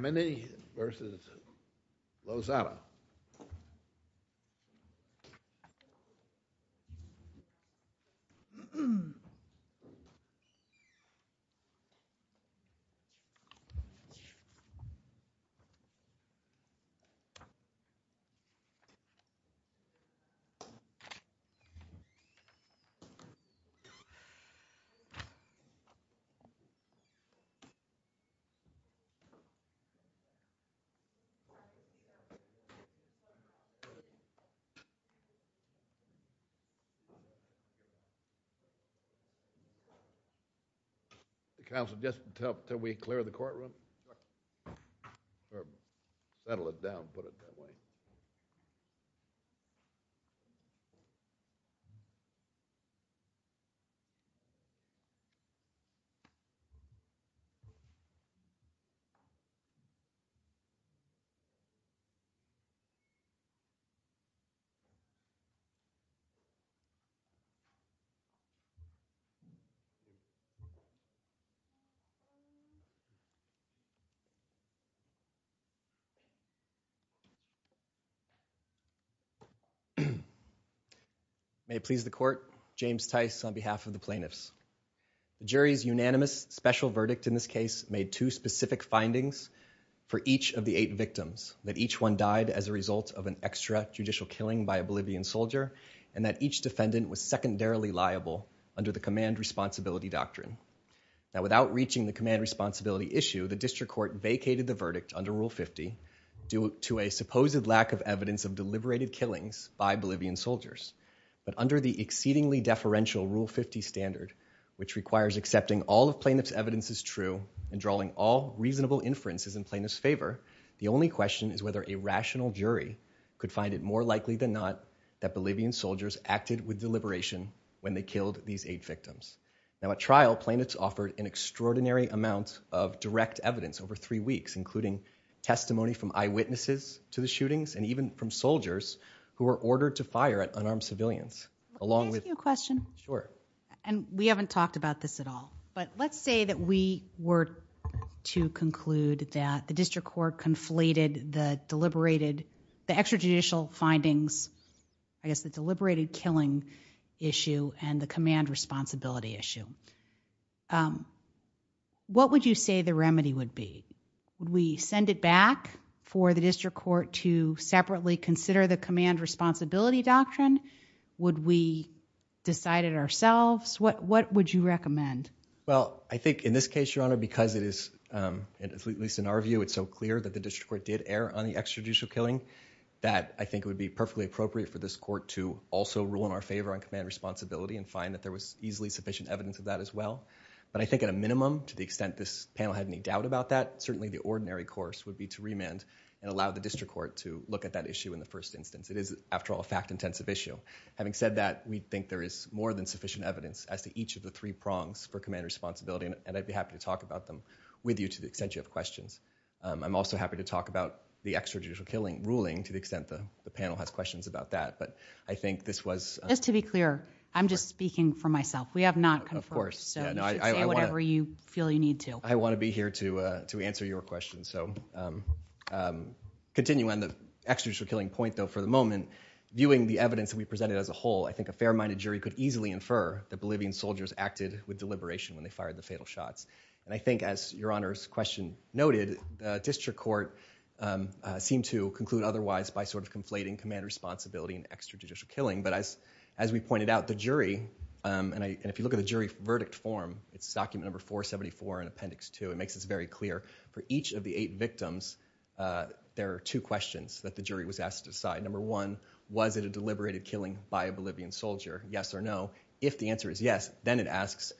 MAMANI versus LOZADA Council, just until we clear the courtroom, or settle it down, put it that way. Thank you. May it please the court, James Tice on behalf of the plaintiffs. The jury's unanimous special verdict in this case made two specific findings for each of the eight victims, that each one died as a result of an extra judicial killing by a Bolivian soldier, and that each defendant was secondarily liable under the command responsibility doctrine. Now, without reaching the command responsibility issue, the district court vacated the verdict under Rule 50 due to a supposed lack of evidence of deliberated killings by Bolivian soldiers. But under the exceedingly deferential Rule 50 standard, which requires accepting all of plaintiff's evidence as true and drawing all reasonable inferences in plaintiff's favor, the only question is whether a rational jury could find it more likely than not that Bolivian soldiers acted with deliberation when they killed these eight victims. Now, at trial, plaintiffs offered an extraordinary amount of direct evidence over three weeks, including testimony from eyewitnesses to the shootings, and even from soldiers who were ordered to fire at unarmed civilians, along with- Can I ask you a question? Sure. And we haven't talked about this at all, but let's say that we were to conclude that the district court conflated the deliberated, the extra judicial findings, I guess, the command responsibility issue. What would you say the remedy would be? Would we send it back for the district court to separately consider the command responsibility doctrine? Would we decide it ourselves? What would you recommend? Well, I think in this case, Your Honor, because it is, at least in our view, it's so clear that the district court did err on the extrajudicial killing, that I think it would be perfectly appropriate for this court to also rule in our favor on command responsibility and find that there was easily sufficient evidence of that as well. But I think at a minimum, to the extent this panel had any doubt about that, certainly the ordinary course would be to remand and allow the district court to look at that issue in the first instance. It is, after all, a fact-intensive issue. Having said that, we think there is more than sufficient evidence as to each of the three prongs for command responsibility, and I'd be happy to talk about them with you to the extent you have questions. I'm also happy to talk about the extrajudicial killing ruling, to the extent the panel has questions about that. But I think this was— Just to be clear, I'm just speaking for myself. We have not confirmed. Of course. So you should say whatever you feel you need to. I want to be here to answer your question. So continuing on the extrajudicial killing point, though, for the moment, viewing the evidence that we presented as a whole, I think a fair-minded jury could easily infer that Bolivian soldiers acted with deliberation when they fired the fatal shots. And I think, as Your Honor's question noted, the district court seemed to conclude otherwise by sort of conflating command responsibility and extrajudicial killing. But as we pointed out, the jury—and if you look at the jury verdict form, it's document number 474 in appendix 2. It makes this very clear. For each of the eight victims, there are two questions that the jury was asked to decide. Number one, was it a deliberated killing by a Bolivian soldier? Yes or no. If the answer is yes, then it asks,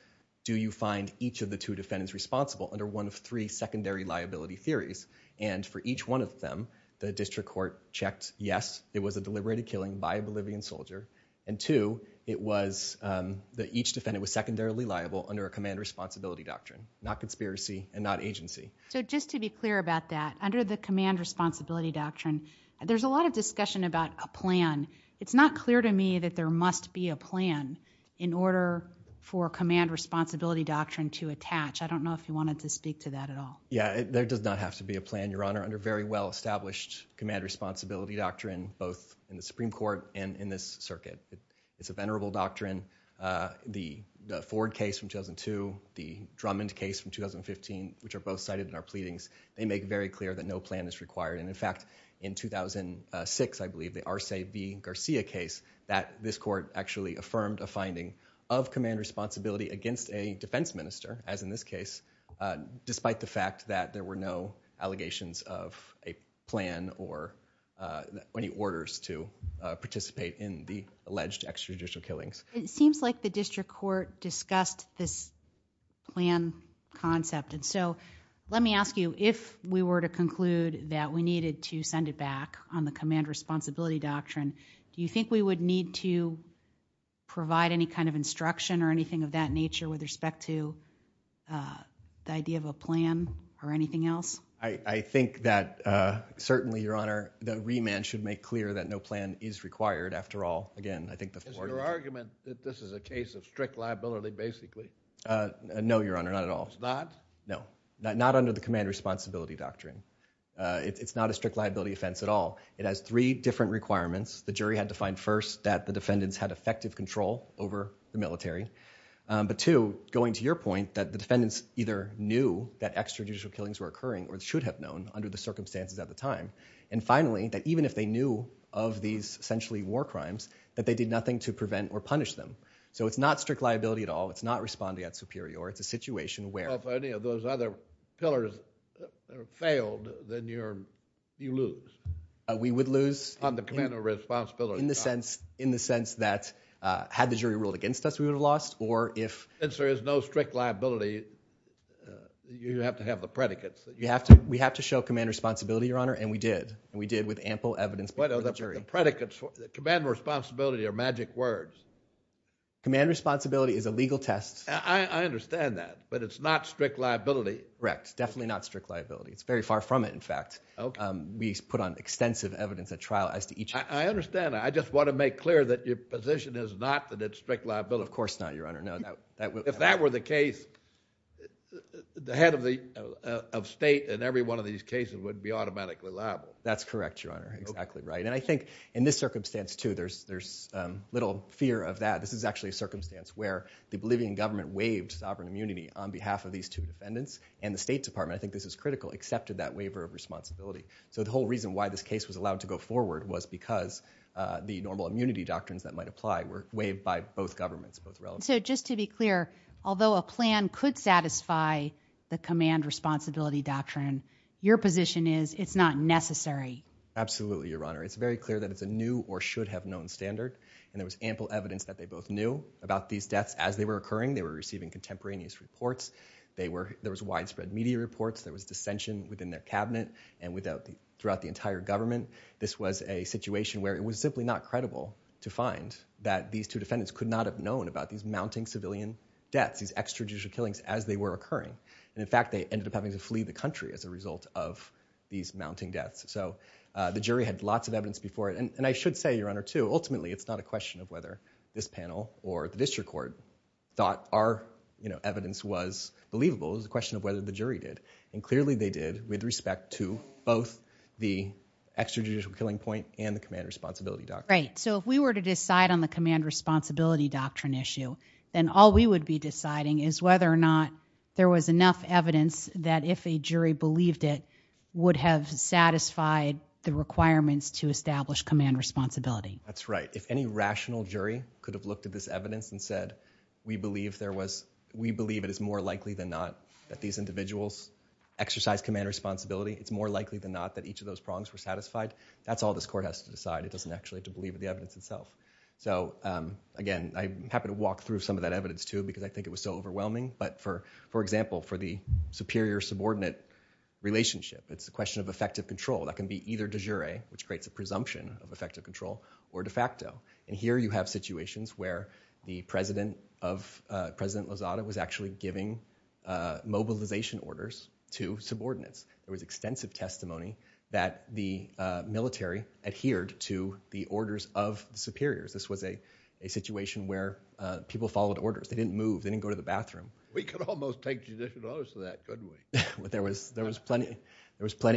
do you find each of the two defendants responsible under one of three secondary liability theories? And for each one of them, the district court checked, yes, it was a deliberated killing by a Bolivian soldier. And two, it was that each defendant was secondarily liable under a command responsibility doctrine, not conspiracy and not agency. So just to be clear about that, under the command responsibility doctrine, there's a lot of discussion about a plan. It's not clear to me that there must be a plan in order for command responsibility doctrine to attach. I don't know if you wanted to speak to that at all. Yeah, there does not have to be a plan, Your Honor, under very well-established command responsibility doctrine, both in the Supreme Court and in this circuit. It's a venerable doctrine. The Ford case from 2002, the Drummond case from 2015, which are both cited in our pleadings, they make very clear that no plan is required. And in fact, in 2006, I believe, the Arce v. Garcia case, that this court actually affirmed a finding of command responsibility against a defense minister, as in this case, despite the fact that there were no allegations of a plan or any orders to participate in the alleged extrajudicial killings. It seems like the district court discussed this plan concept. And so let me ask you, if we were to conclude that we needed to send it back on the command responsibility doctrine, do you think we would need to provide any kind of instruction or the idea of a plan or anything else? I think that, certainly, Your Honor, the remand should make clear that no plan is required. After all, again, I think the Ford— Is your argument that this is a case of strict liability, basically? No, Your Honor, not at all. It's not? No. Not under the command responsibility doctrine. It's not a strict liability offense at all. It has three different requirements. The jury had to find, first, that the defendants had effective control over the military. But two, going to your point, that the defendants either knew that extrajudicial killings were occurring or should have known under the circumstances at the time. And finally, that even if they knew of these essentially war crimes, that they did nothing to prevent or punish them. So it's not strict liability at all. It's not respondeat superior. It's a situation where— Well, if any of those other pillars failed, then you lose. We would lose— On the command of responsibility doctrine. In the sense that had the jury ruled against us, we would have lost. Or if— Since there is no strict liability, you have to have the predicates. We have to show command responsibility, Your Honor, and we did. And we did with ample evidence before the jury. The predicates—command responsibility are magic words. Command responsibility is a legal test. I understand that. But it's not strict liability. Correct. Definitely not strict liability. It's very far from it, in fact. Okay. We put on extensive evidence at trial as to each— I understand. I just want to make clear that your position is not that it's strict liability. Of course not, Your Honor. No. If that were the case, the head of state in every one of these cases would be automatically liable. That's correct, Your Honor. Exactly right. And I think in this circumstance, too, there's little fear of that. This is actually a circumstance where the Bolivian government waived sovereign immunity on behalf of these two defendants, and the State Department—I think this is critical— accepted that waiver of responsibility. So the whole reason why this case was allowed to go forward was because the normal immunity doctrines that might apply were waived by both governments, both relevant. So just to be clear, although a plan could satisfy the command responsibility doctrine, your position is it's not necessary. Absolutely, Your Honor. It's very clear that it's a new or should-have-known standard, and there was ample evidence that they both knew about these deaths as they were occurring. They were receiving contemporaneous reports. There was widespread media reports. There was dissension within their cabinet and throughout the entire government. This was a situation where it was simply not credible to find that these two defendants could not have known about these mounting civilian deaths, these extrajudicial killings, as they were occurring. And, in fact, they ended up having to flee the country as a result of these mounting deaths. So the jury had lots of evidence before it. And I should say, Your Honor, too, ultimately it's not a question of whether this panel or the district court thought our evidence was believable. It was a question of whether the jury did. And clearly they did with respect to both the extrajudicial killing point and the command responsibility doctrine. Right. So if we were to decide on the command responsibility doctrine issue, then all we would be deciding is whether or not there was enough evidence that if a jury believed it would have satisfied the requirements to establish command responsibility. That's right. If any rational jury could have looked at this evidence and said, we believe it is more likely than not that these individuals exercise command responsibility. It's more likely than not that each of those prongs were satisfied. That's all this court has to decide. It doesn't actually have to believe the evidence itself. So, again, I'm happy to walk through some of that evidence, too, because I think it was so overwhelming. But, for example, for the superior-subordinate relationship, it's a question of effective control. That can be either de jure, which creates a presumption of effective control, or de facto. And here you have situations where President Lozada was actually giving mobilization orders to subordinates. There was extensive testimony that the military adhered to the orders of the superiors. This was a situation where people followed orders. They didn't move. They didn't go to the bathroom. We could almost take judicial notice of that, couldn't we? There was plenty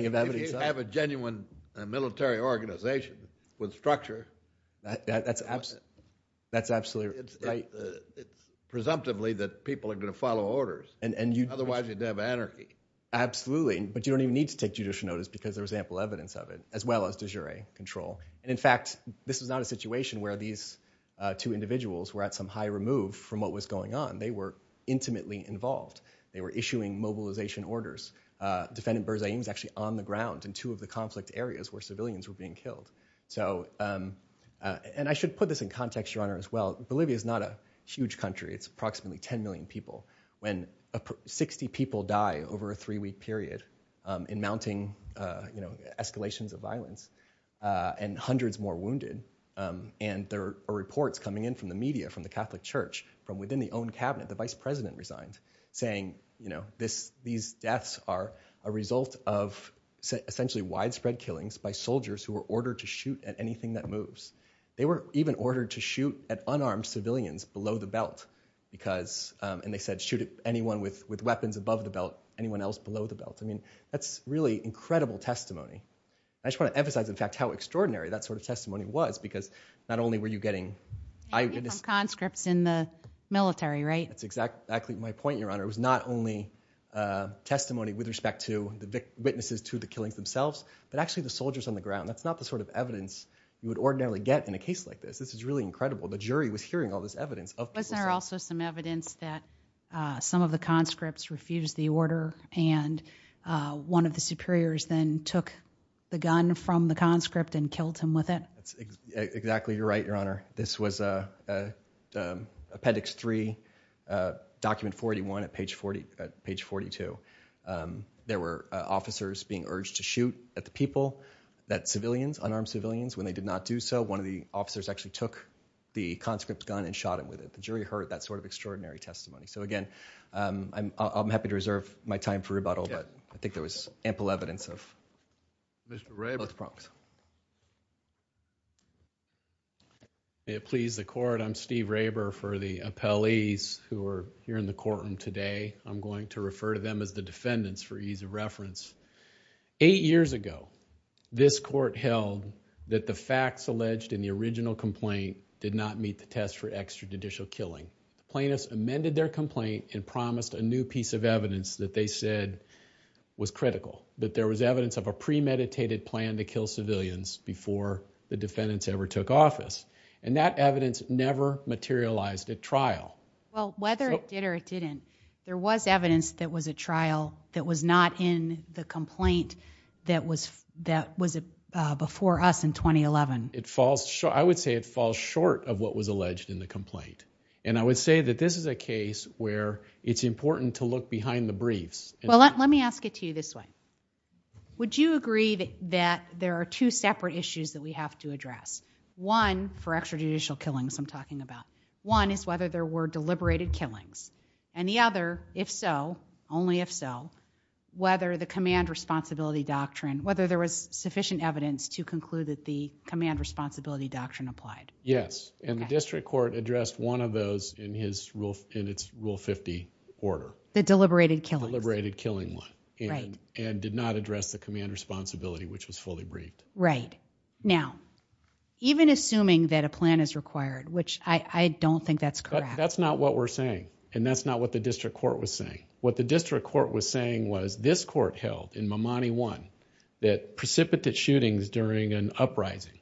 of evidence. If you have a genuine military organization with structure, that's absolutely right. It's presumptively that people are going to follow orders. Otherwise, you'd have anarchy. Absolutely. But you don't even need to take judicial notice because there was ample evidence of it, as well as de jure control. And, in fact, this was not a situation where these two individuals were at some high remove from what was going on. They were intimately involved. They were issuing mobilization orders. Defendant Berzain was actually on the ground in two of the conflict areas where civilians were being killed. And I should put this in context, Your Honor, as well. Bolivia is not a huge country. It's approximately 10 million people. When 60 people die over a three-week period in mounting escalations of violence and hundreds more wounded, and there are reports coming in from the media, from the Catholic Church, from within the own cabinet, the vice president resigned, saying these deaths are a result of essentially widespread killings by soldiers who were ordered to shoot at anything that moves. They were even ordered to shoot at unarmed civilians below the belt because, and they said, shoot at anyone with weapons above the belt, anyone else below the belt. I mean, that's really incredible testimony. I just want to emphasize, in fact, how extraordinary that sort of testimony was because not only were you getting... Maybe from conscripts in the military, right? That's exactly my point, Your Honor. It was not only testimony with respect to the witnesses to the killings themselves, but actually the soldiers on the ground. That's not the sort of evidence you would ordinarily get in a case like this. This is really incredible. The jury was hearing all this evidence. Wasn't there also some evidence that some of the conscripts refused the order and one of the superiors then took the gun from the conscript and killed him with it? That's exactly right, Your Honor. This was Appendix 3, Document 41 at page 42. There were officers being urged to shoot at the people, that civilians, unarmed civilians. When they did not do so, one of the officers actually took the conscript's gun and shot him with it. The jury heard that sort of extraordinary testimony. So, again, I'm happy to reserve my time for rebuttal, but I think there was ample evidence of those problems. May it please the Court, I'm Steve Raber for the appellees who are here in the courtroom today. I'm going to refer to them as the defendants for ease of reference. Eight years ago, this Court held that the facts alleged in the original complaint did not meet the test for extrajudicial killing. Plaintiffs amended their complaint and promised a new piece of evidence that they said was critical, that there was evidence of a premeditated plan to kill civilians before the defendants ever took office. And that evidence never materialized at trial. Well, whether it did or it didn't, there was evidence that was at trial that was not in the complaint that was before us in 2011. I would say it falls short of what was alleged in the complaint. And I would say that this is a case where it's important to look behind the briefs. Well, let me ask it to you this way. Would you agree that there are two separate issues that we have to address? One, for extrajudicial killings I'm talking about. One is whether there were deliberated killings. And the other, if so, only if so, whether the command responsibility doctrine, whether there was sufficient evidence to conclude that the command responsibility doctrine applied. Yes. And the District Court addressed one of those in its Rule 50 order. The deliberated killings. The deliberated killing one. Right. And did not address the command responsibility, which was fully briefed. Right. Now, even assuming that a plan is required, which I don't think that's correct. That's not what we're saying. And that's not what the District Court was saying. What the District Court was saying was this court held in Mamani 1 that precipitate shootings during an uprising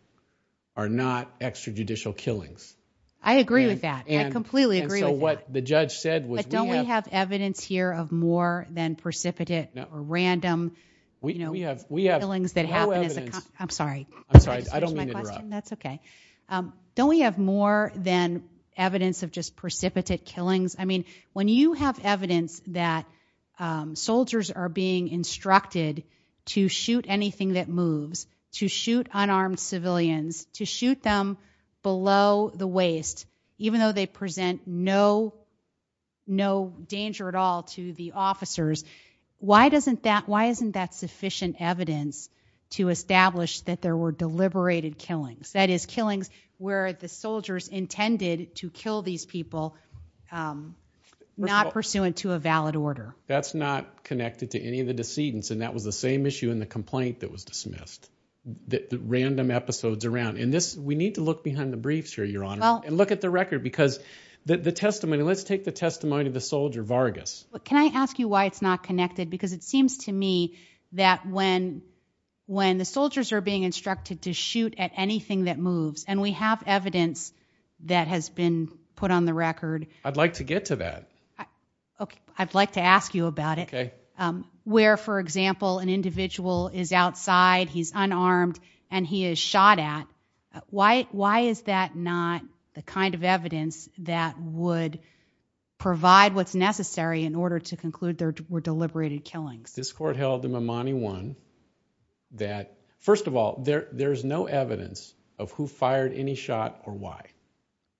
are not extrajudicial killings. I agree with that. I completely agree with that. And so what the judge said was we have... But don't we have evidence here of more than precipitate or random killings that happen as a... No evidence. I'm sorry. I'm sorry. I don't mean to interrupt. That's okay. Don't we have more than evidence of just precipitate killings? I mean, when you have evidence that soldiers are being instructed to shoot anything that moves, to shoot unarmed civilians, to shoot them below the waist, even though they present no danger at all to the officers, why isn't that sufficient evidence to establish that there were deliberated killings, that is, killings where the soldiers intended to kill these people not pursuant to a valid order? That's not connected to any of the decedents, and that was the same issue in the complaint that was dismissed, the random episodes around. And we need to look behind the briefs here, Your Honor, and look at the record, because the testimony... Let's take the testimony of the soldier, Vargas. Can I ask you why it's not connected? Because it seems to me that when the soldiers are being instructed to shoot at anything that moves, and we have evidence that has been put on the record... I'd like to get to that. I'd like to ask you about it. Okay. Where, for example, an individual is outside, he's unarmed, and he is shot at, why is that not the kind of evidence that would provide what's necessary in order to conclude there were deliberated killings? This court held in Mamani 1 that, first of all, there's no evidence of who fired any shot or why.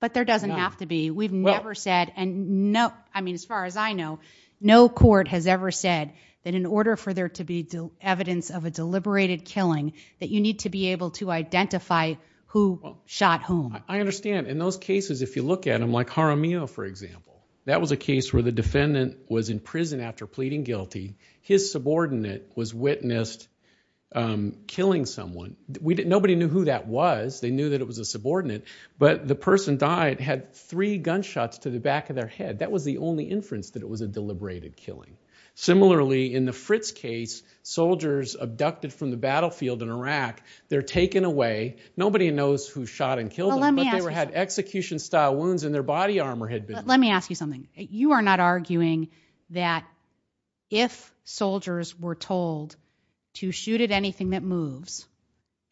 But there doesn't have to be. We've never said, and as far as I know, no court has ever said that in order for there to be evidence of a deliberated killing that you need to be able to identify who shot whom. I understand. In those cases, if you look at them, like Jaramillo, for example, that was a case where the defendant was in prison after pleading guilty. His subordinate was witnessed killing someone. Nobody knew who that was. They knew that it was a subordinate. But the person died, had three gunshots to the back of their head. That was the only inference that it was a deliberated killing. Similarly, in the Fritz case, soldiers abducted from the battlefield in Iraq, they're taken away. Nobody knows who shot and killed them, but they had execution-style wounds and their body armor had been removed. Let me ask you something. You are not arguing that if soldiers were told to shoot at anything that moves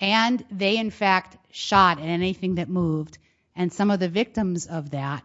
and they in fact shot at anything that moved, and some of the victims of that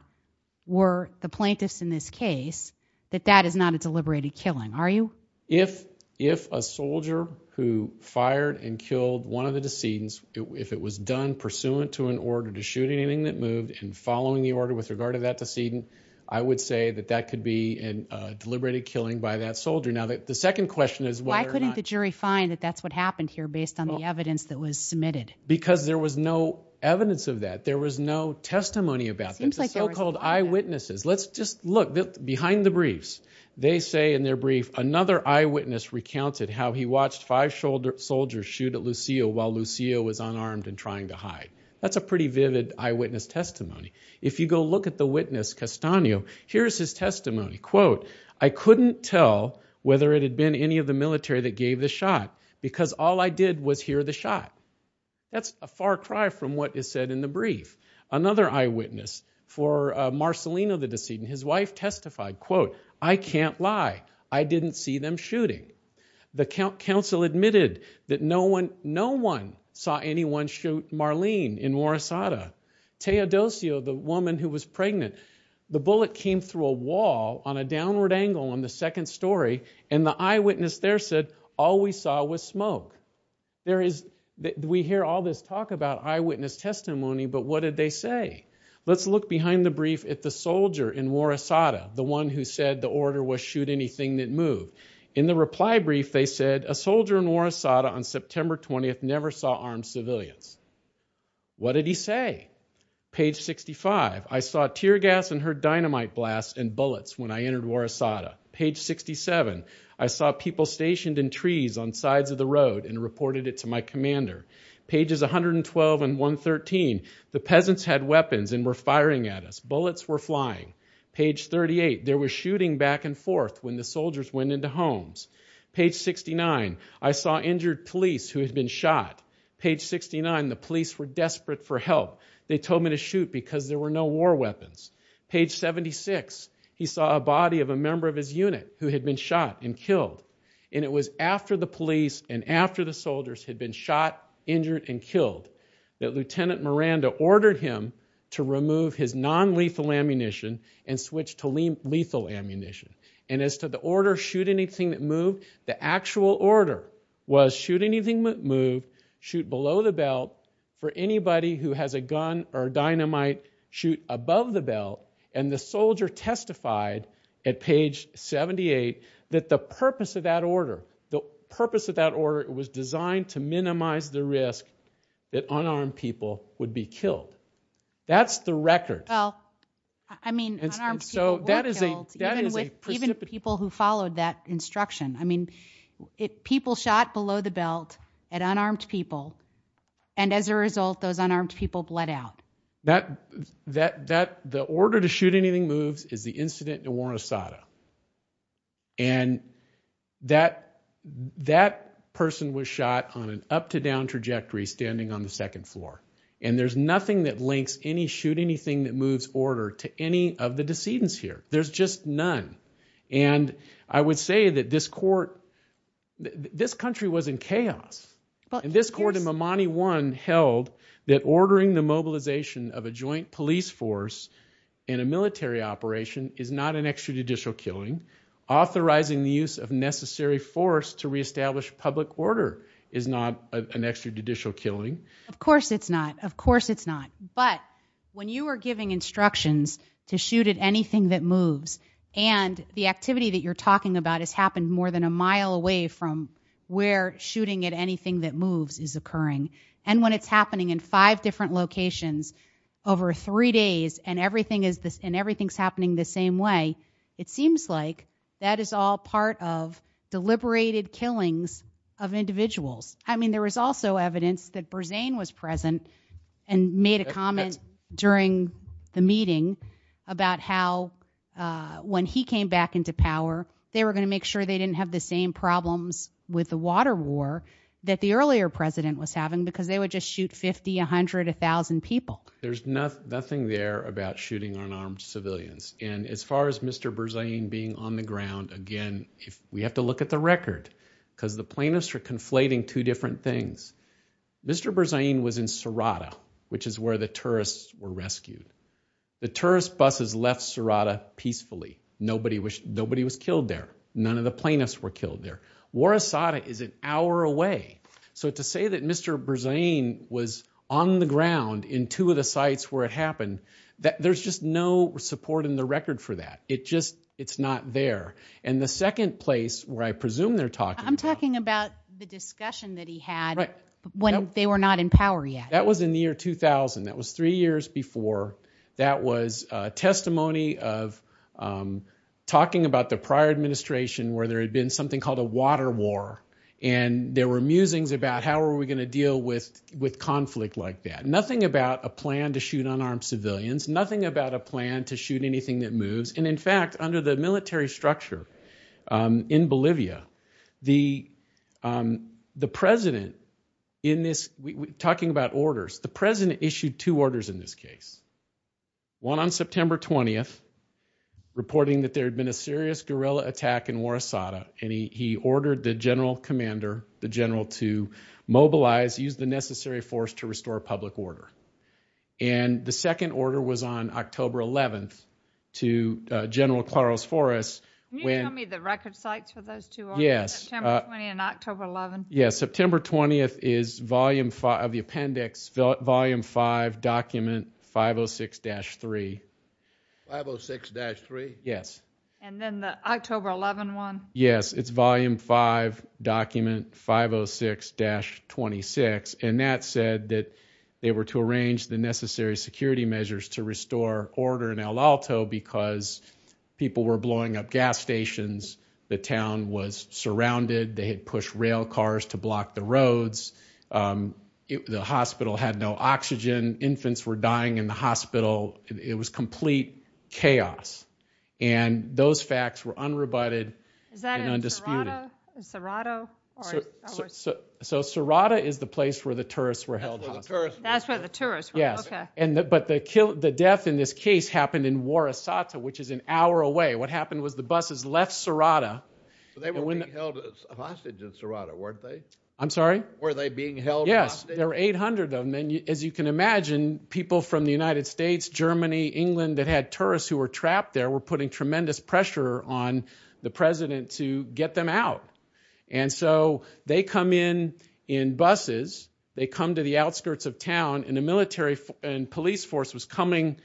were the plaintiffs in this case, that that is not a deliberated killing, are you? If a soldier who fired and killed one of the decedents, if it was done pursuant to an order to shoot anything that moved and following the order with regard to that decedent, I would say that that could be a deliberated killing by that soldier. Now, the second question is whether or not— Why couldn't the jury find that that's what happened here based on the evidence that was submitted? Because there was no evidence of that. There was no testimony about that, the so-called eyewitnesses. Let's just look behind the briefs. They say in their brief, another eyewitness recounted how he watched five soldiers shoot at Lucio while Lucio was unarmed and trying to hide. That's a pretty vivid eyewitness testimony. If you go look at the witness, Castaño, here's his testimony. Quote, I couldn't tell whether it had been any of the military that gave the shot because all I did was hear the shot. That's a far cry from what is said in the brief. Another eyewitness for Marcelino, the decedent, his wife testified, quote, I can't lie. I didn't see them shooting. The council admitted that no one saw anyone shoot Marlene in Morosada. Teodosio, the woman who was pregnant, the bullet came through a wall on a downward angle on the second story and the eyewitness there said all we saw was smoke. We hear all this talk about eyewitness testimony, but what did they say? Let's look behind the brief at the soldier in Morosada, the one who said the order was shoot anything that moved. In the reply brief they said a soldier in Morosada on September 20th never saw armed civilians. What did he say? Page 65, I saw tear gas and heard dynamite blasts and bullets when I entered Morosada. Page 67, I saw people stationed in trees on sides of the road and reported it to my commander. Pages 112 and 113, the peasants had weapons and were firing at us. Bullets were flying. Page 38, there was shooting back and forth when the soldiers went into homes. Page 69, I saw injured police who had been shot. Page 69, the police were desperate for help. They told me to shoot because there were no war weapons. Page 76, he saw a body of a member of his unit who had been shot and killed. It was after the police and after the soldiers had been shot, injured, and killed that Lieutenant Miranda ordered him to remove his nonlethal ammunition and switch to lethal ammunition. As to the order shoot anything that moved, the actual order was shoot anything that moved, shoot below the belt. For anybody who has a gun or dynamite, shoot above the belt. And the soldier testified at page 78 that the purpose of that order, the purpose of that order was designed to minimize the risk that unarmed people would be killed. That's the record. Well, I mean, unarmed people were killed, even people who followed that instruction. I mean, people shot below the belt at unarmed people, and as a result, those unarmed people bled out. The order to shoot anything moves is the incident in Wuornosata. And that person was shot on an up-to-down trajectory standing on the second floor. And there's nothing that links any shoot anything that moves order to any of the decedents here. There's just none. And I would say that this court, this country was in chaos. And this court in Mamani 1 held that ordering the mobilization of a joint police force in a military operation is not an extrajudicial killing. Authorizing the use of necessary force to reestablish public order is not an extrajudicial killing. Of course it's not. Of course it's not. But when you are giving instructions to shoot at anything that moves, and the activity that you're talking about has happened more than a mile away from where shooting at anything that moves is occurring, and when it's happening in five different locations over three days and everything is happening the same way, it seems like that is all part of deliberated killings of individuals. I mean, there was also evidence that Berzane was present and made a comment during the meeting about how when he came back into power, they were going to make sure they didn't have the same problems with the water war that the earlier president was having because they would just shoot 50, 100, 1,000 people. There's nothing there about shooting unarmed civilians. And as far as Mr. Berzane being on the ground, again, we have to look at the record because the plaintiffs are conflating two different things. Mr. Berzane was in Sarada, which is where the terrorists were rescued. The terrorist buses left Sarada peacefully. Nobody was killed there. None of the plaintiffs were killed there. War Asada is an hour away. So to say that Mr. Berzane was on the ground in two of the sites where it happened, there's just no support in the record for that. It just, it's not there. And the second place where I presume they're talking about. I'm talking about the discussion that he had when they were not in power yet. That was in the year 2000. That was three years before. That was testimony of talking about the prior administration where there had been something called a water war, and there were musings about how are we going to deal with conflict like that. Nothing about a plan to shoot unarmed civilians. Nothing about a plan to shoot anything that moves. And, in fact, under the military structure in Bolivia, the president in this, talking about orders, the president issued two orders in this case. One on September 20th, reporting that there had been a serious guerrilla attack in War Asada, and he ordered the general commander, the general to mobilize, use the necessary force to restore public order. And the second order was on October 11th to General Claros Flores. Can you tell me the record sites for those two orders? Yes. September 20th and October 11th. Yes. September 20th is Volume 5 of the appendix, Volume 5, Document 506-3. 506-3? Yes. And then the October 11 one? Yes. It's Volume 5, Document 506-26, and that said that they were to arrange the necessary security measures to restore order in El Alto because people were blowing up gas stations. The town was surrounded. They had pushed rail cars to block the roads. The hospital had no oxygen. Infants were dying in the hospital. It was complete chaos, and those facts were unrebutted and undisputed. Is that in Cerrado? So Cerrado is the place where the tourists were held hostage. That's where the tourists were? Yes. Okay. But the death in this case happened in War Asada, which is an hour away. What happened was the buses left Cerrado. So they were being held hostage in Cerrado, weren't they? I'm sorry? Were they being held hostage? Yes. There were 800 of them, and as you can imagine, people from the United States, Germany, England that had tourists who were trapped there were putting tremendous pressure on the president to get them out. And so they come in in buses. They come to the outskirts of town, and a military and police force was coming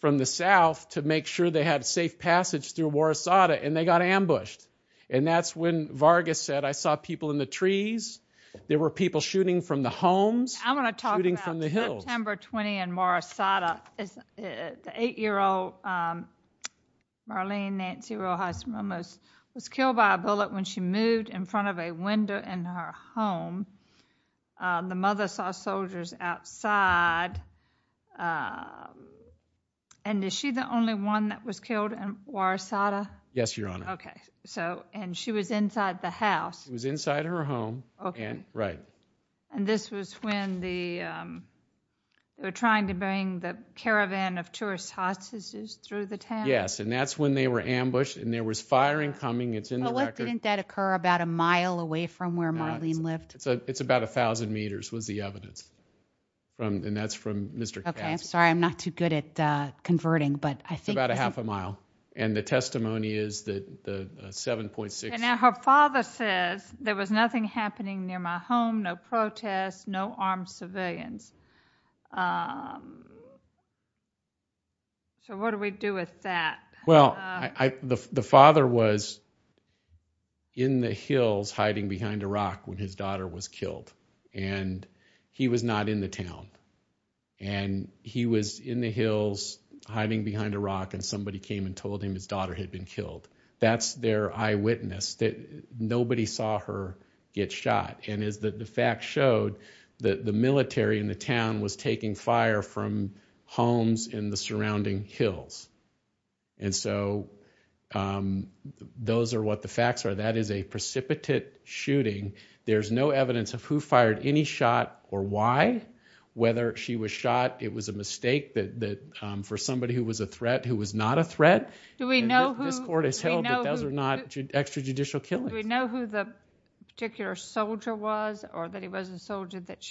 from the south to make sure they had safe passage through War Asada, and they got ambushed. And that's when Vargas said, I saw people in the trees. There were people shooting from the homes, shooting from the hills. I want to talk about September 20 in War Asada. The 8-year-old Marlene Nancy Rojas-Momos was killed by a bullet when she moved in front of a window in her home. The mother saw soldiers outside. And is she the only one that was killed in War Asada? Yes, Your Honor. Okay. And she was inside the house? She was inside her home. Okay. Right. And this was when they were trying to bring the caravan of tourist hostages through the town? Yes, and that's when they were ambushed, and there was firing coming. It's in the record. Well, didn't that occur about a mile away from where Marlene lived? It's about 1,000 meters was the evidence, and that's from Mr. Cassidy. Okay. I'm sorry. I'm not too good at converting, but I think this is... It's about a half a mile, and the testimony is that the 7.6... And now her father says, there was nothing happening near my home, no protests, no armed civilians. So what do we do with that? when his daughter was killed. And he was not in the town. And he was in the hills hiding behind a rock, and somebody came and told him his daughter had been killed. That's their eyewitness that nobody saw her get shot. And the fact showed that the military in the town was taking fire from homes in the surrounding hills. And so those are what the facts are. That is a precipitate shooting. There's no evidence of who fired any shot or why, whether she was shot. It was a mistake for somebody who was a threat, who was not a threat. Do we know who... This court has held that those are not extrajudicial killings. Do we know who the particular soldier was, or that he was a soldier that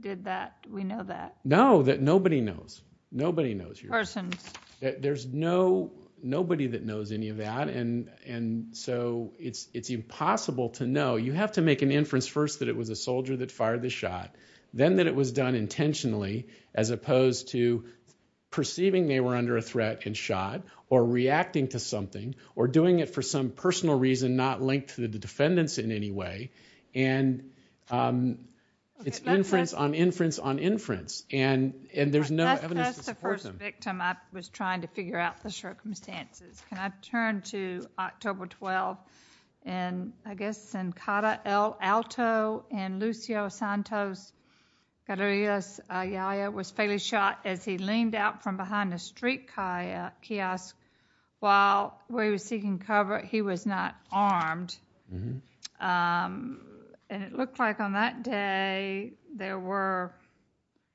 did that? Do we know that? No, that nobody knows. Nobody knows. Persons. There's nobody that knows any of that, and so it's impossible to know. You have to make an inference first that it was a soldier that fired the shot, then that it was done intentionally, as opposed to perceiving they were under a threat and shot, or reacting to something, or doing it for some personal reason not linked to the defendants in any way. And it's inference on inference on inference, and there's no evidence to support them. That's the first victim I was trying to figure out the circumstances. Can I turn to October 12th? And I guess in Cata El Alto, and Lucio Santos Carreras Ayala was fatally shot as he leaned out from behind a street kiosk while we were seeking cover. He was not armed. And it looked like on that day there were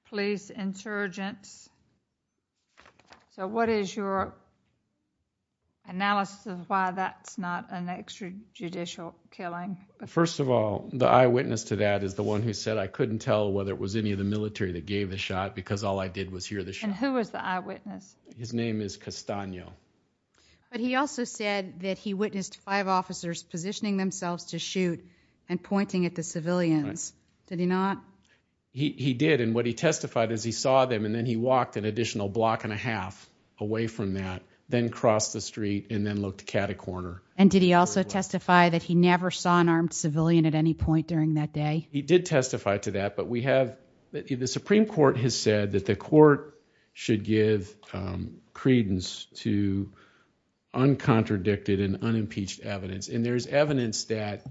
police insurgents. So what is your analysis of why that's not an extrajudicial killing? First of all, the eyewitness to that is the one who said, I couldn't tell whether it was any of the military that gave the shot because all I did was hear the shot. And who was the eyewitness? His name is Castano. But he also said that he witnessed five officers positioning themselves to shoot and pointing at the civilians. Right. Did he not? He did. And what he testified is he saw them, and then he walked an additional block and a half away from that, then crossed the street, and then looked Cata Corner. And did he also testify that he never saw an armed civilian at any point during that day? He did testify to that. But the Supreme Court has said that the court should give credence to uncontradicted and unimpeached evidence. And there's evidence that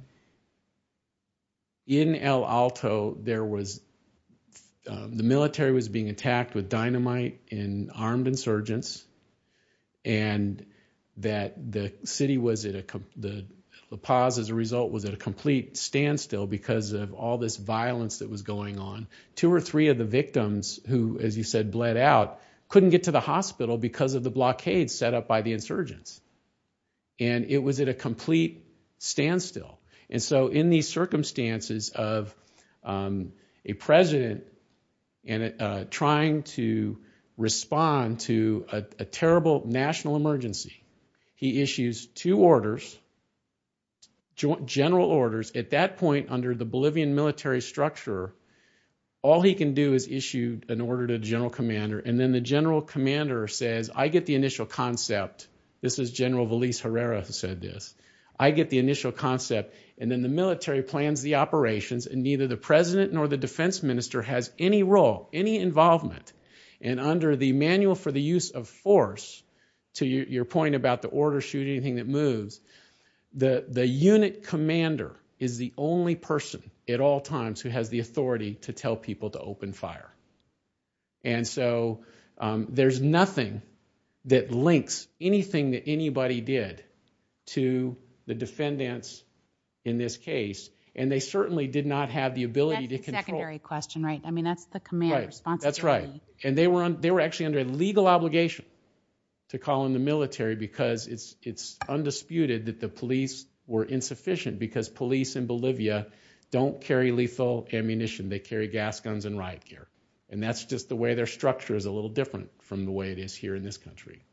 in El Alto, the military was being attacked with dynamite and armed insurgents, and that the city was at a complete standstill because of all this violence that was going on. Two or three of the victims who, as you said, bled out, couldn't get to the hospital because of the blockade set up by the insurgents. And it was at a complete standstill. And so in these circumstances of a president trying to respond to a terrible national emergency, he issues two orders, general orders. At that point, under the Bolivian military structure, all he can do is issue an order to the general commander, and then the general commander says, I get the initial concept. This is General Veliz Herrera who said this. I get the initial concept, and then the military plans the operations, and neither the president nor the defense minister has any role, any involvement. And under the Manual for the Use of Force, to your point about the order, shoot anything that moves, the unit commander is the only person at all times who has the authority to tell people to open fire. And so there's nothing that links anything that anybody did to the defendants in this case, and they certainly did not have the ability to control. That's the secondary question, right? I mean, that's the command responsibility. That's right. And they were actually under legal obligation to call in the military because it's undisputed that the police were insufficient because police in Bolivia don't carry lethal ammunition. They carry gas guns and riot gear, and that's just the way their structure is a little different from the way it is here in this country.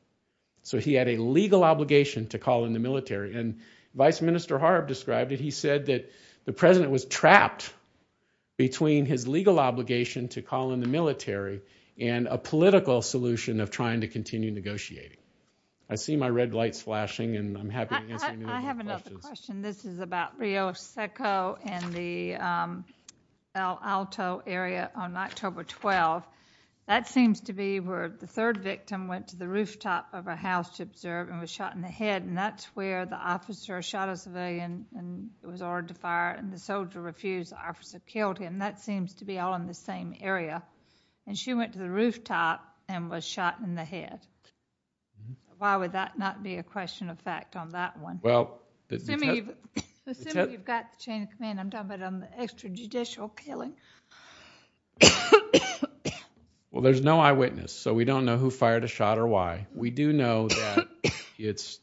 So he had a legal obligation to call in the military, and Vice Minister Harb described it. He said that the president was trapped between his legal obligation to call in the military and a political solution of trying to continue negotiating. I see my red lights flashing, and I'm happy to answer any of your questions. I have another question. And this is about Rio Seco and the El Alto area on October 12th. That seems to be where the third victim went to the rooftop of a house to observe and was shot in the head, and that's where the officer shot a civilian and was ordered to fire, and the soldier refused. The officer killed him. That seems to be all in the same area. And she went to the rooftop and was shot in the head. Why would that not be a question of fact on that one? Assuming you've got the chain of command, I'm talking about on the extrajudicial killing. Well, there's no eyewitness, so we don't know who fired a shot or why. We do know that it's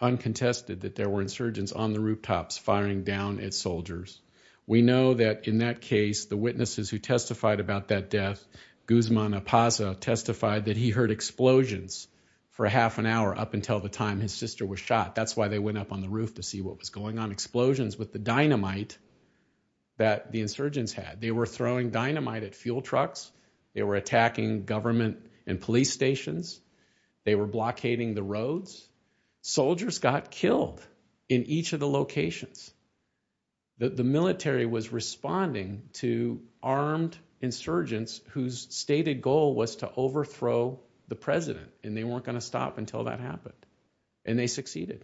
uncontested that there were insurgents on the rooftops firing down at soldiers. We know that in that case, the witnesses who testified about that death, Guzman Apaza, testified that he heard explosions for half an hour up until the time his sister was shot. That's why they went up on the roof to see what was going on. Explosions with the dynamite that the insurgents had. They were throwing dynamite at fuel trucks. They were attacking government and police stations. They were blockading the roads. Soldiers got killed in each of the locations. The military was responding to armed insurgents whose stated goal was to overthrow the president, and they weren't going to stop until that happened, and they succeeded.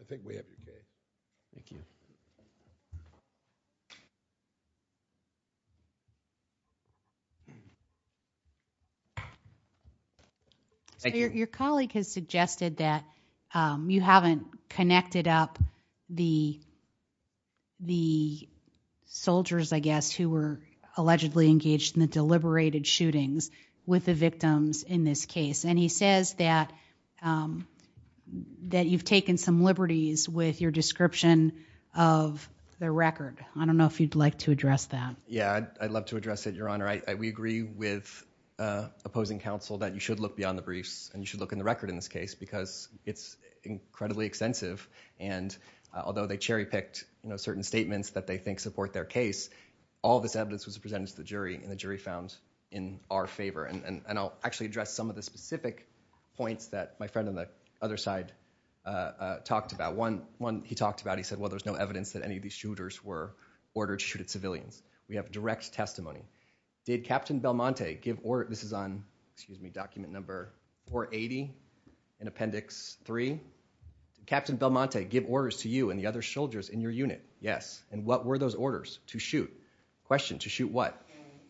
I think we have your page. Thank you. Your colleague has suggested that you haven't connected up the soldiers, I guess, who were allegedly engaged in the deliberated shootings with the victims in this case. He says that you've taken some liberties with your description of the record. I don't know if you'd like to address that. Yeah, I'd love to address it, Your Honor. We agree with opposing counsel that you should look beyond the briefs, and you should look in the record in this case because it's incredibly extensive. Although they cherry-picked certain statements that they think support their case, all this evidence was presented to the jury, and the jury found in our favor. And I'll actually address some of the specific points that my friend on the other side talked about. One he talked about, he said, well, there's no evidence that any of these shooters were ordered to shoot at civilians. We have direct testimony. Did Captain Belmonte give orders... This is on, excuse me, document number 480, in appendix three. Did Captain Belmonte give orders to you and the other soldiers in your unit? Yes. And what were those orders? To shoot. Question, to shoot what?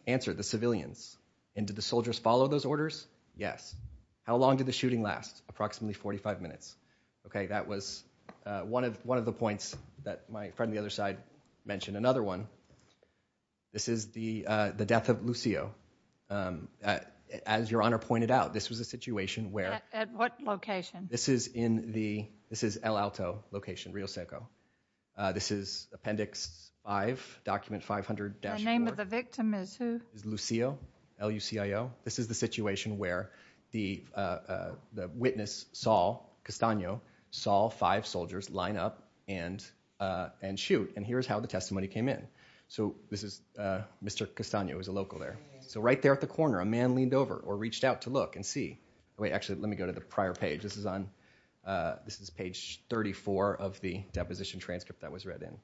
Answer, the civilians. And did the soldiers follow those orders? Yes. How long did the shooting last? Approximately 45 minutes. Okay, that was one of the points that my friend on the other side mentioned. Another one, this is the death of Lucio. As Your Honor pointed out, this was a situation where... At what location? This is in the... This is El Alto location, Rioseco. This is appendix five, document 500-4. The name of the victim is who? It's Lucio, L-U-C-I-O. This is the situation where the witness saw, Castaño, saw five soldiers line up and shoot. And here's how the testimony came in. So this is Mr. Castaño, who's a local there. So right there at the corner, a man leaned over or reached out to look and see. Wait, actually, let me go to the prior page. This is on... This is page 34 of the deposition transcript that was read in.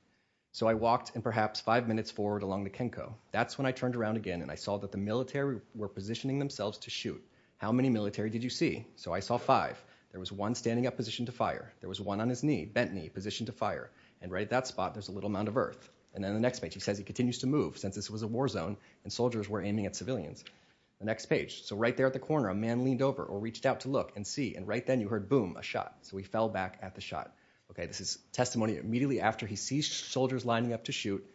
So I walked in perhaps five minutes forward along the Kenco. That's when I turned around again, and I saw that the military were positioning themselves to shoot. How many military did you see? So I saw five. There was one standing up, positioned to fire. There was one on his knee, bent knee, positioned to fire. And right at that spot, there's a little mound of earth. And then the next page, he says he continues to move since this was a war zone, and soldiers were aiming at civilians. The next page. So right there at the corner, a man leaned over or reached out to look and see. And right then you heard, boom, a shot. So he fell back at the shot. Okay, this is testimony immediately after he sees soldiers lining up to shoot.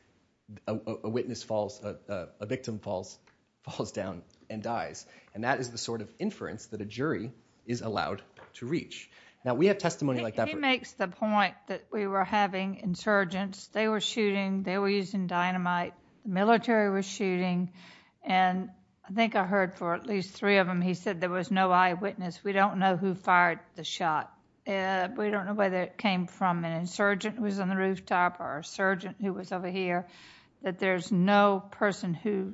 A witness falls, a victim falls down and dies. And that is the sort of inference that a jury is allowed to reach. Now, we have testimony like that. He makes the point that we were having insurgents. They were shooting. They were using dynamite. Military was shooting. And I think I heard for at least three of them, he said there was no eyewitness. We don't know who fired the shot. We don't know whether it came from an insurgent who was on the rooftop or a surgeon who was over here, that there's no person who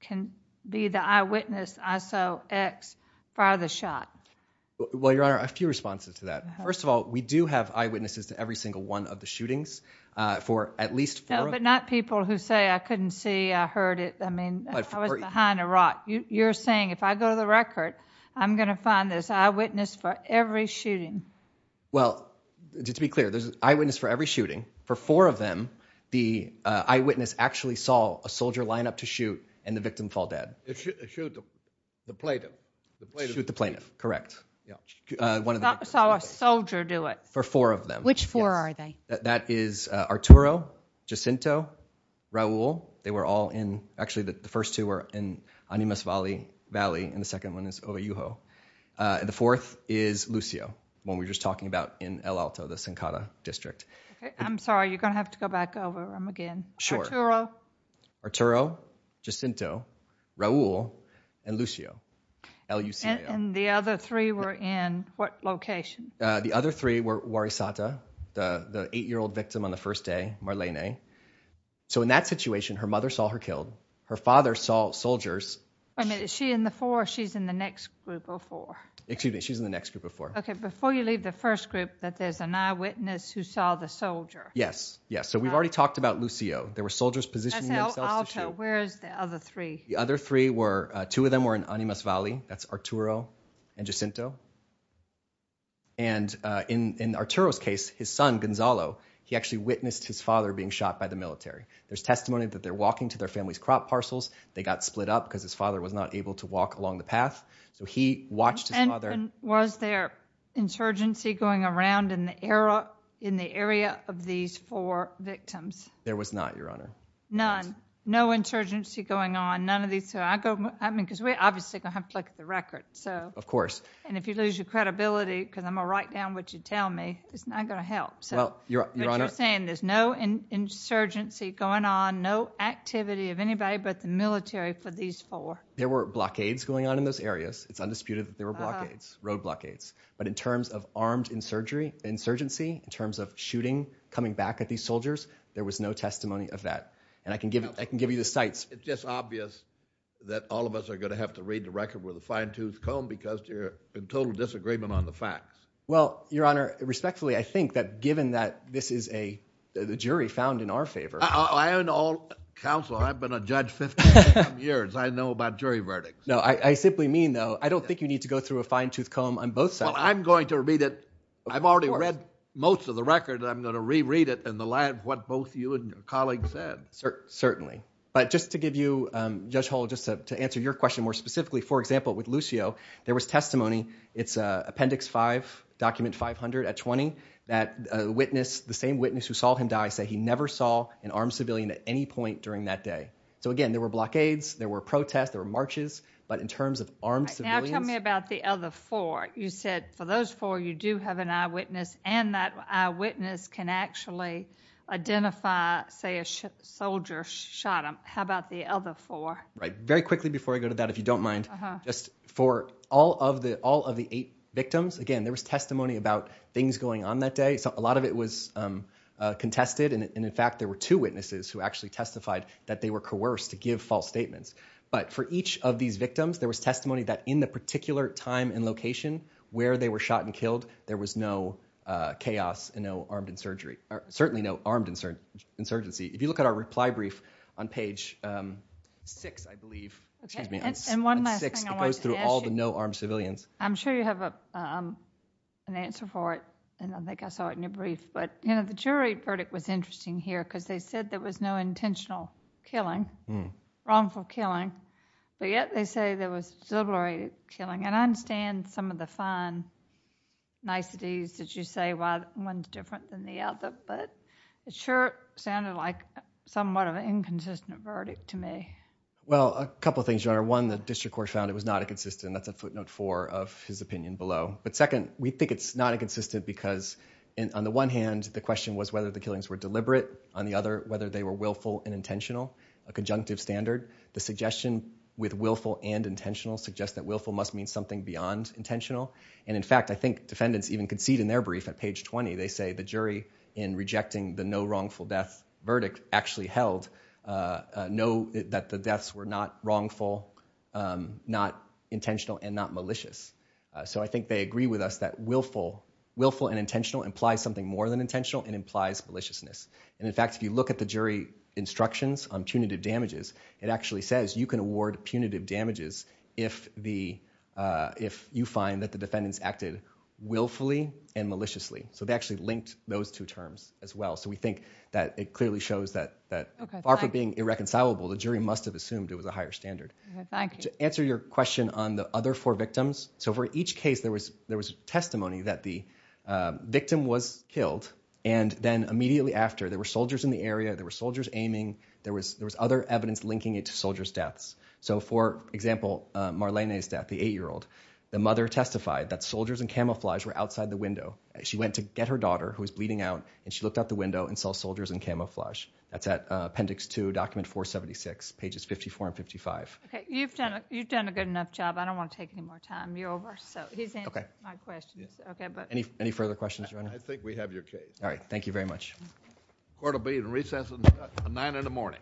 can be the eyewitness, I saw X fire the shot. Well, Your Honor, a few responses to that. First of all, we do have eyewitnesses to every single one of the shootings for at least four of them. No, but not people who say, I couldn't see, I heard it. I mean, I was behind a rock. You're saying if I go to the record, I'm going to find this eyewitness for every shooting. Well, just to be clear, there's an eyewitness for every shooting. For four of them, the eyewitness actually saw a soldier line up to shoot and the victim fall dead. Shoot the plaintiff. Shoot the plaintiff, correct. Yeah. Saw a soldier do it. For four of them. Which four are they? That is Arturo, Jacinto, Raul. They were all in, actually the first two were in Animas Valley and the second one is Ovayuho. The fourth is Lucio, the one we were just talking about in El Alto, the Senkata District. I'm sorry, you're going to have to go back over them again. Arturo. Arturo, Jacinto, Raul, and Lucio. And the other three were in what location? The other three were Warisata, the eight-year-old victim on the first day, Marlene. So in that situation, her mother saw her killed. Her father saw soldiers. Wait a minute, is she in the four or she's in the next group of four? Excuse me, she's in the next group of four. Okay, before you leave the first group, that there's an eyewitness who saw the soldier. Yes, yes. So we've already talked about Lucio. There were soldiers positioning themselves. That's El Alto. Where is the other three? The other three were, two of them were in Animas Valley. That's Arturo and Jacinto. And in Arturo's case, his son, Gonzalo, he actually witnessed his father being shot by the military. There's testimony that they're walking to their family's crop parcels. They got split up because his father was not able to walk along the path. So he watched his father. Was there insurgency going around in the area of these four victims? There was not, Your Honor. None? No insurgency going on? None of these? I mean, because we obviously are going to have to look at the records. Of course. And if you lose your credibility, because I'm going to write down what you tell me, it's not going to help. But you're saying there's no insurgency going on, no activity of anybody but the military for these four? There were blockades going on in those areas. It's undisputed that there were blockades, road blockades. But in terms of armed insurgency, in terms of shooting coming back at these soldiers, there was no testimony of that. And I can give you the sites. It's just obvious that all of us are going to have to read the record with a fine-toothed comb because you're in total disagreement on the facts. Well, Your Honor, respectfully, I think that given that this is a jury found in our favor. I own all counsel. I've been a judge 15 years. I know about jury verdicts. No, I simply mean, though, I don't think you need to go through a fine-toothed comb on both sides. Well, I'm going to read it. I've already read most of the record. I'm going to reread it in the light of what both you and your colleagues said. Certainly. But just to give you, Judge Hall, just to answer your question more specifically, for example, with Lucio, there was testimony. It's Appendix 5, Document 500 at 20, that a witness, the same witness who saw him die, said he never saw an armed civilian at any point during that day. So again, there were blockades. There were protests. There were marches. But in terms of armed civilians— Now tell me about the other four. You said for those four, you do have an eyewitness, and that eyewitness can actually identify, say, a soldier shot him. How about the other four? Right. Very quickly before I go to that, if you don't mind, just for all of the eight victims, again, there was testimony about things going on that day. A lot of it was contested. And in fact, there were two witnesses who actually testified that they were coerced to give false statements. But for each of these victims, there was testimony that in the particular time and location where they were shot and killed, there was no chaos and no armed insurgency. If you look at our reply brief on page 6, I believe— And one last thing I wanted to ask you. It goes through all the no-armed civilians. I'm sure you have an answer for it, and I think I saw it in your brief. But the jury verdict was interesting here because they said there was no intentional killing, wrongful killing, but yet they say there was deliberate killing. And I understand some of the fine niceties that you say one's different than the other, but it sure sounded like somewhat of an inconsistent verdict to me. Well, a couple of things, Your Honor. One, the district court found it was not inconsistent. That's a footnote four of his opinion below. But second, we think it's not inconsistent because on the one hand, the question was whether the killings were deliberate. On the other, whether they were willful and intentional. A conjunctive standard. The suggestion with willful and intentional suggests that willful must mean something beyond intentional. And in fact, I think defendants even concede in their brief at page 20, they say the jury in rejecting the no-wrongful death verdict actually held that the deaths were not wrongful, not intentional, and not malicious. So I think they agree with us that willful and intentional implies something more than intentional and implies maliciousness. And in fact, if you look at the jury instructions on punitive damages, it actually says you can award punitive damages if you find that the defendants acted willfully and maliciously. So they actually linked those two terms as well. So we think that it clearly shows that far from being irreconcilable, the jury must have assumed it was a higher standard. To answer your question on the other four victims, so for each case, there was testimony that the victim was killed, and then immediately after, there were soldiers in the area, there were soldiers aiming, there was other evidence linking it to soldiers' deaths. So for example, Marlene's death, the eight-year-old, the mother testified that soldiers in camouflage were outside the window. She went to get her daughter, who was bleeding out, and she looked out the window and saw soldiers in camouflage. That's at Appendix 2, Document 476, pages 54 and 55. Okay, you've done a good enough job. I don't want to take any more time. You're over, so he's answered my questions. Any further questions, Your Honor? I think we have your case. All right, thank you very much. Court will be in recess at 9 in the morning.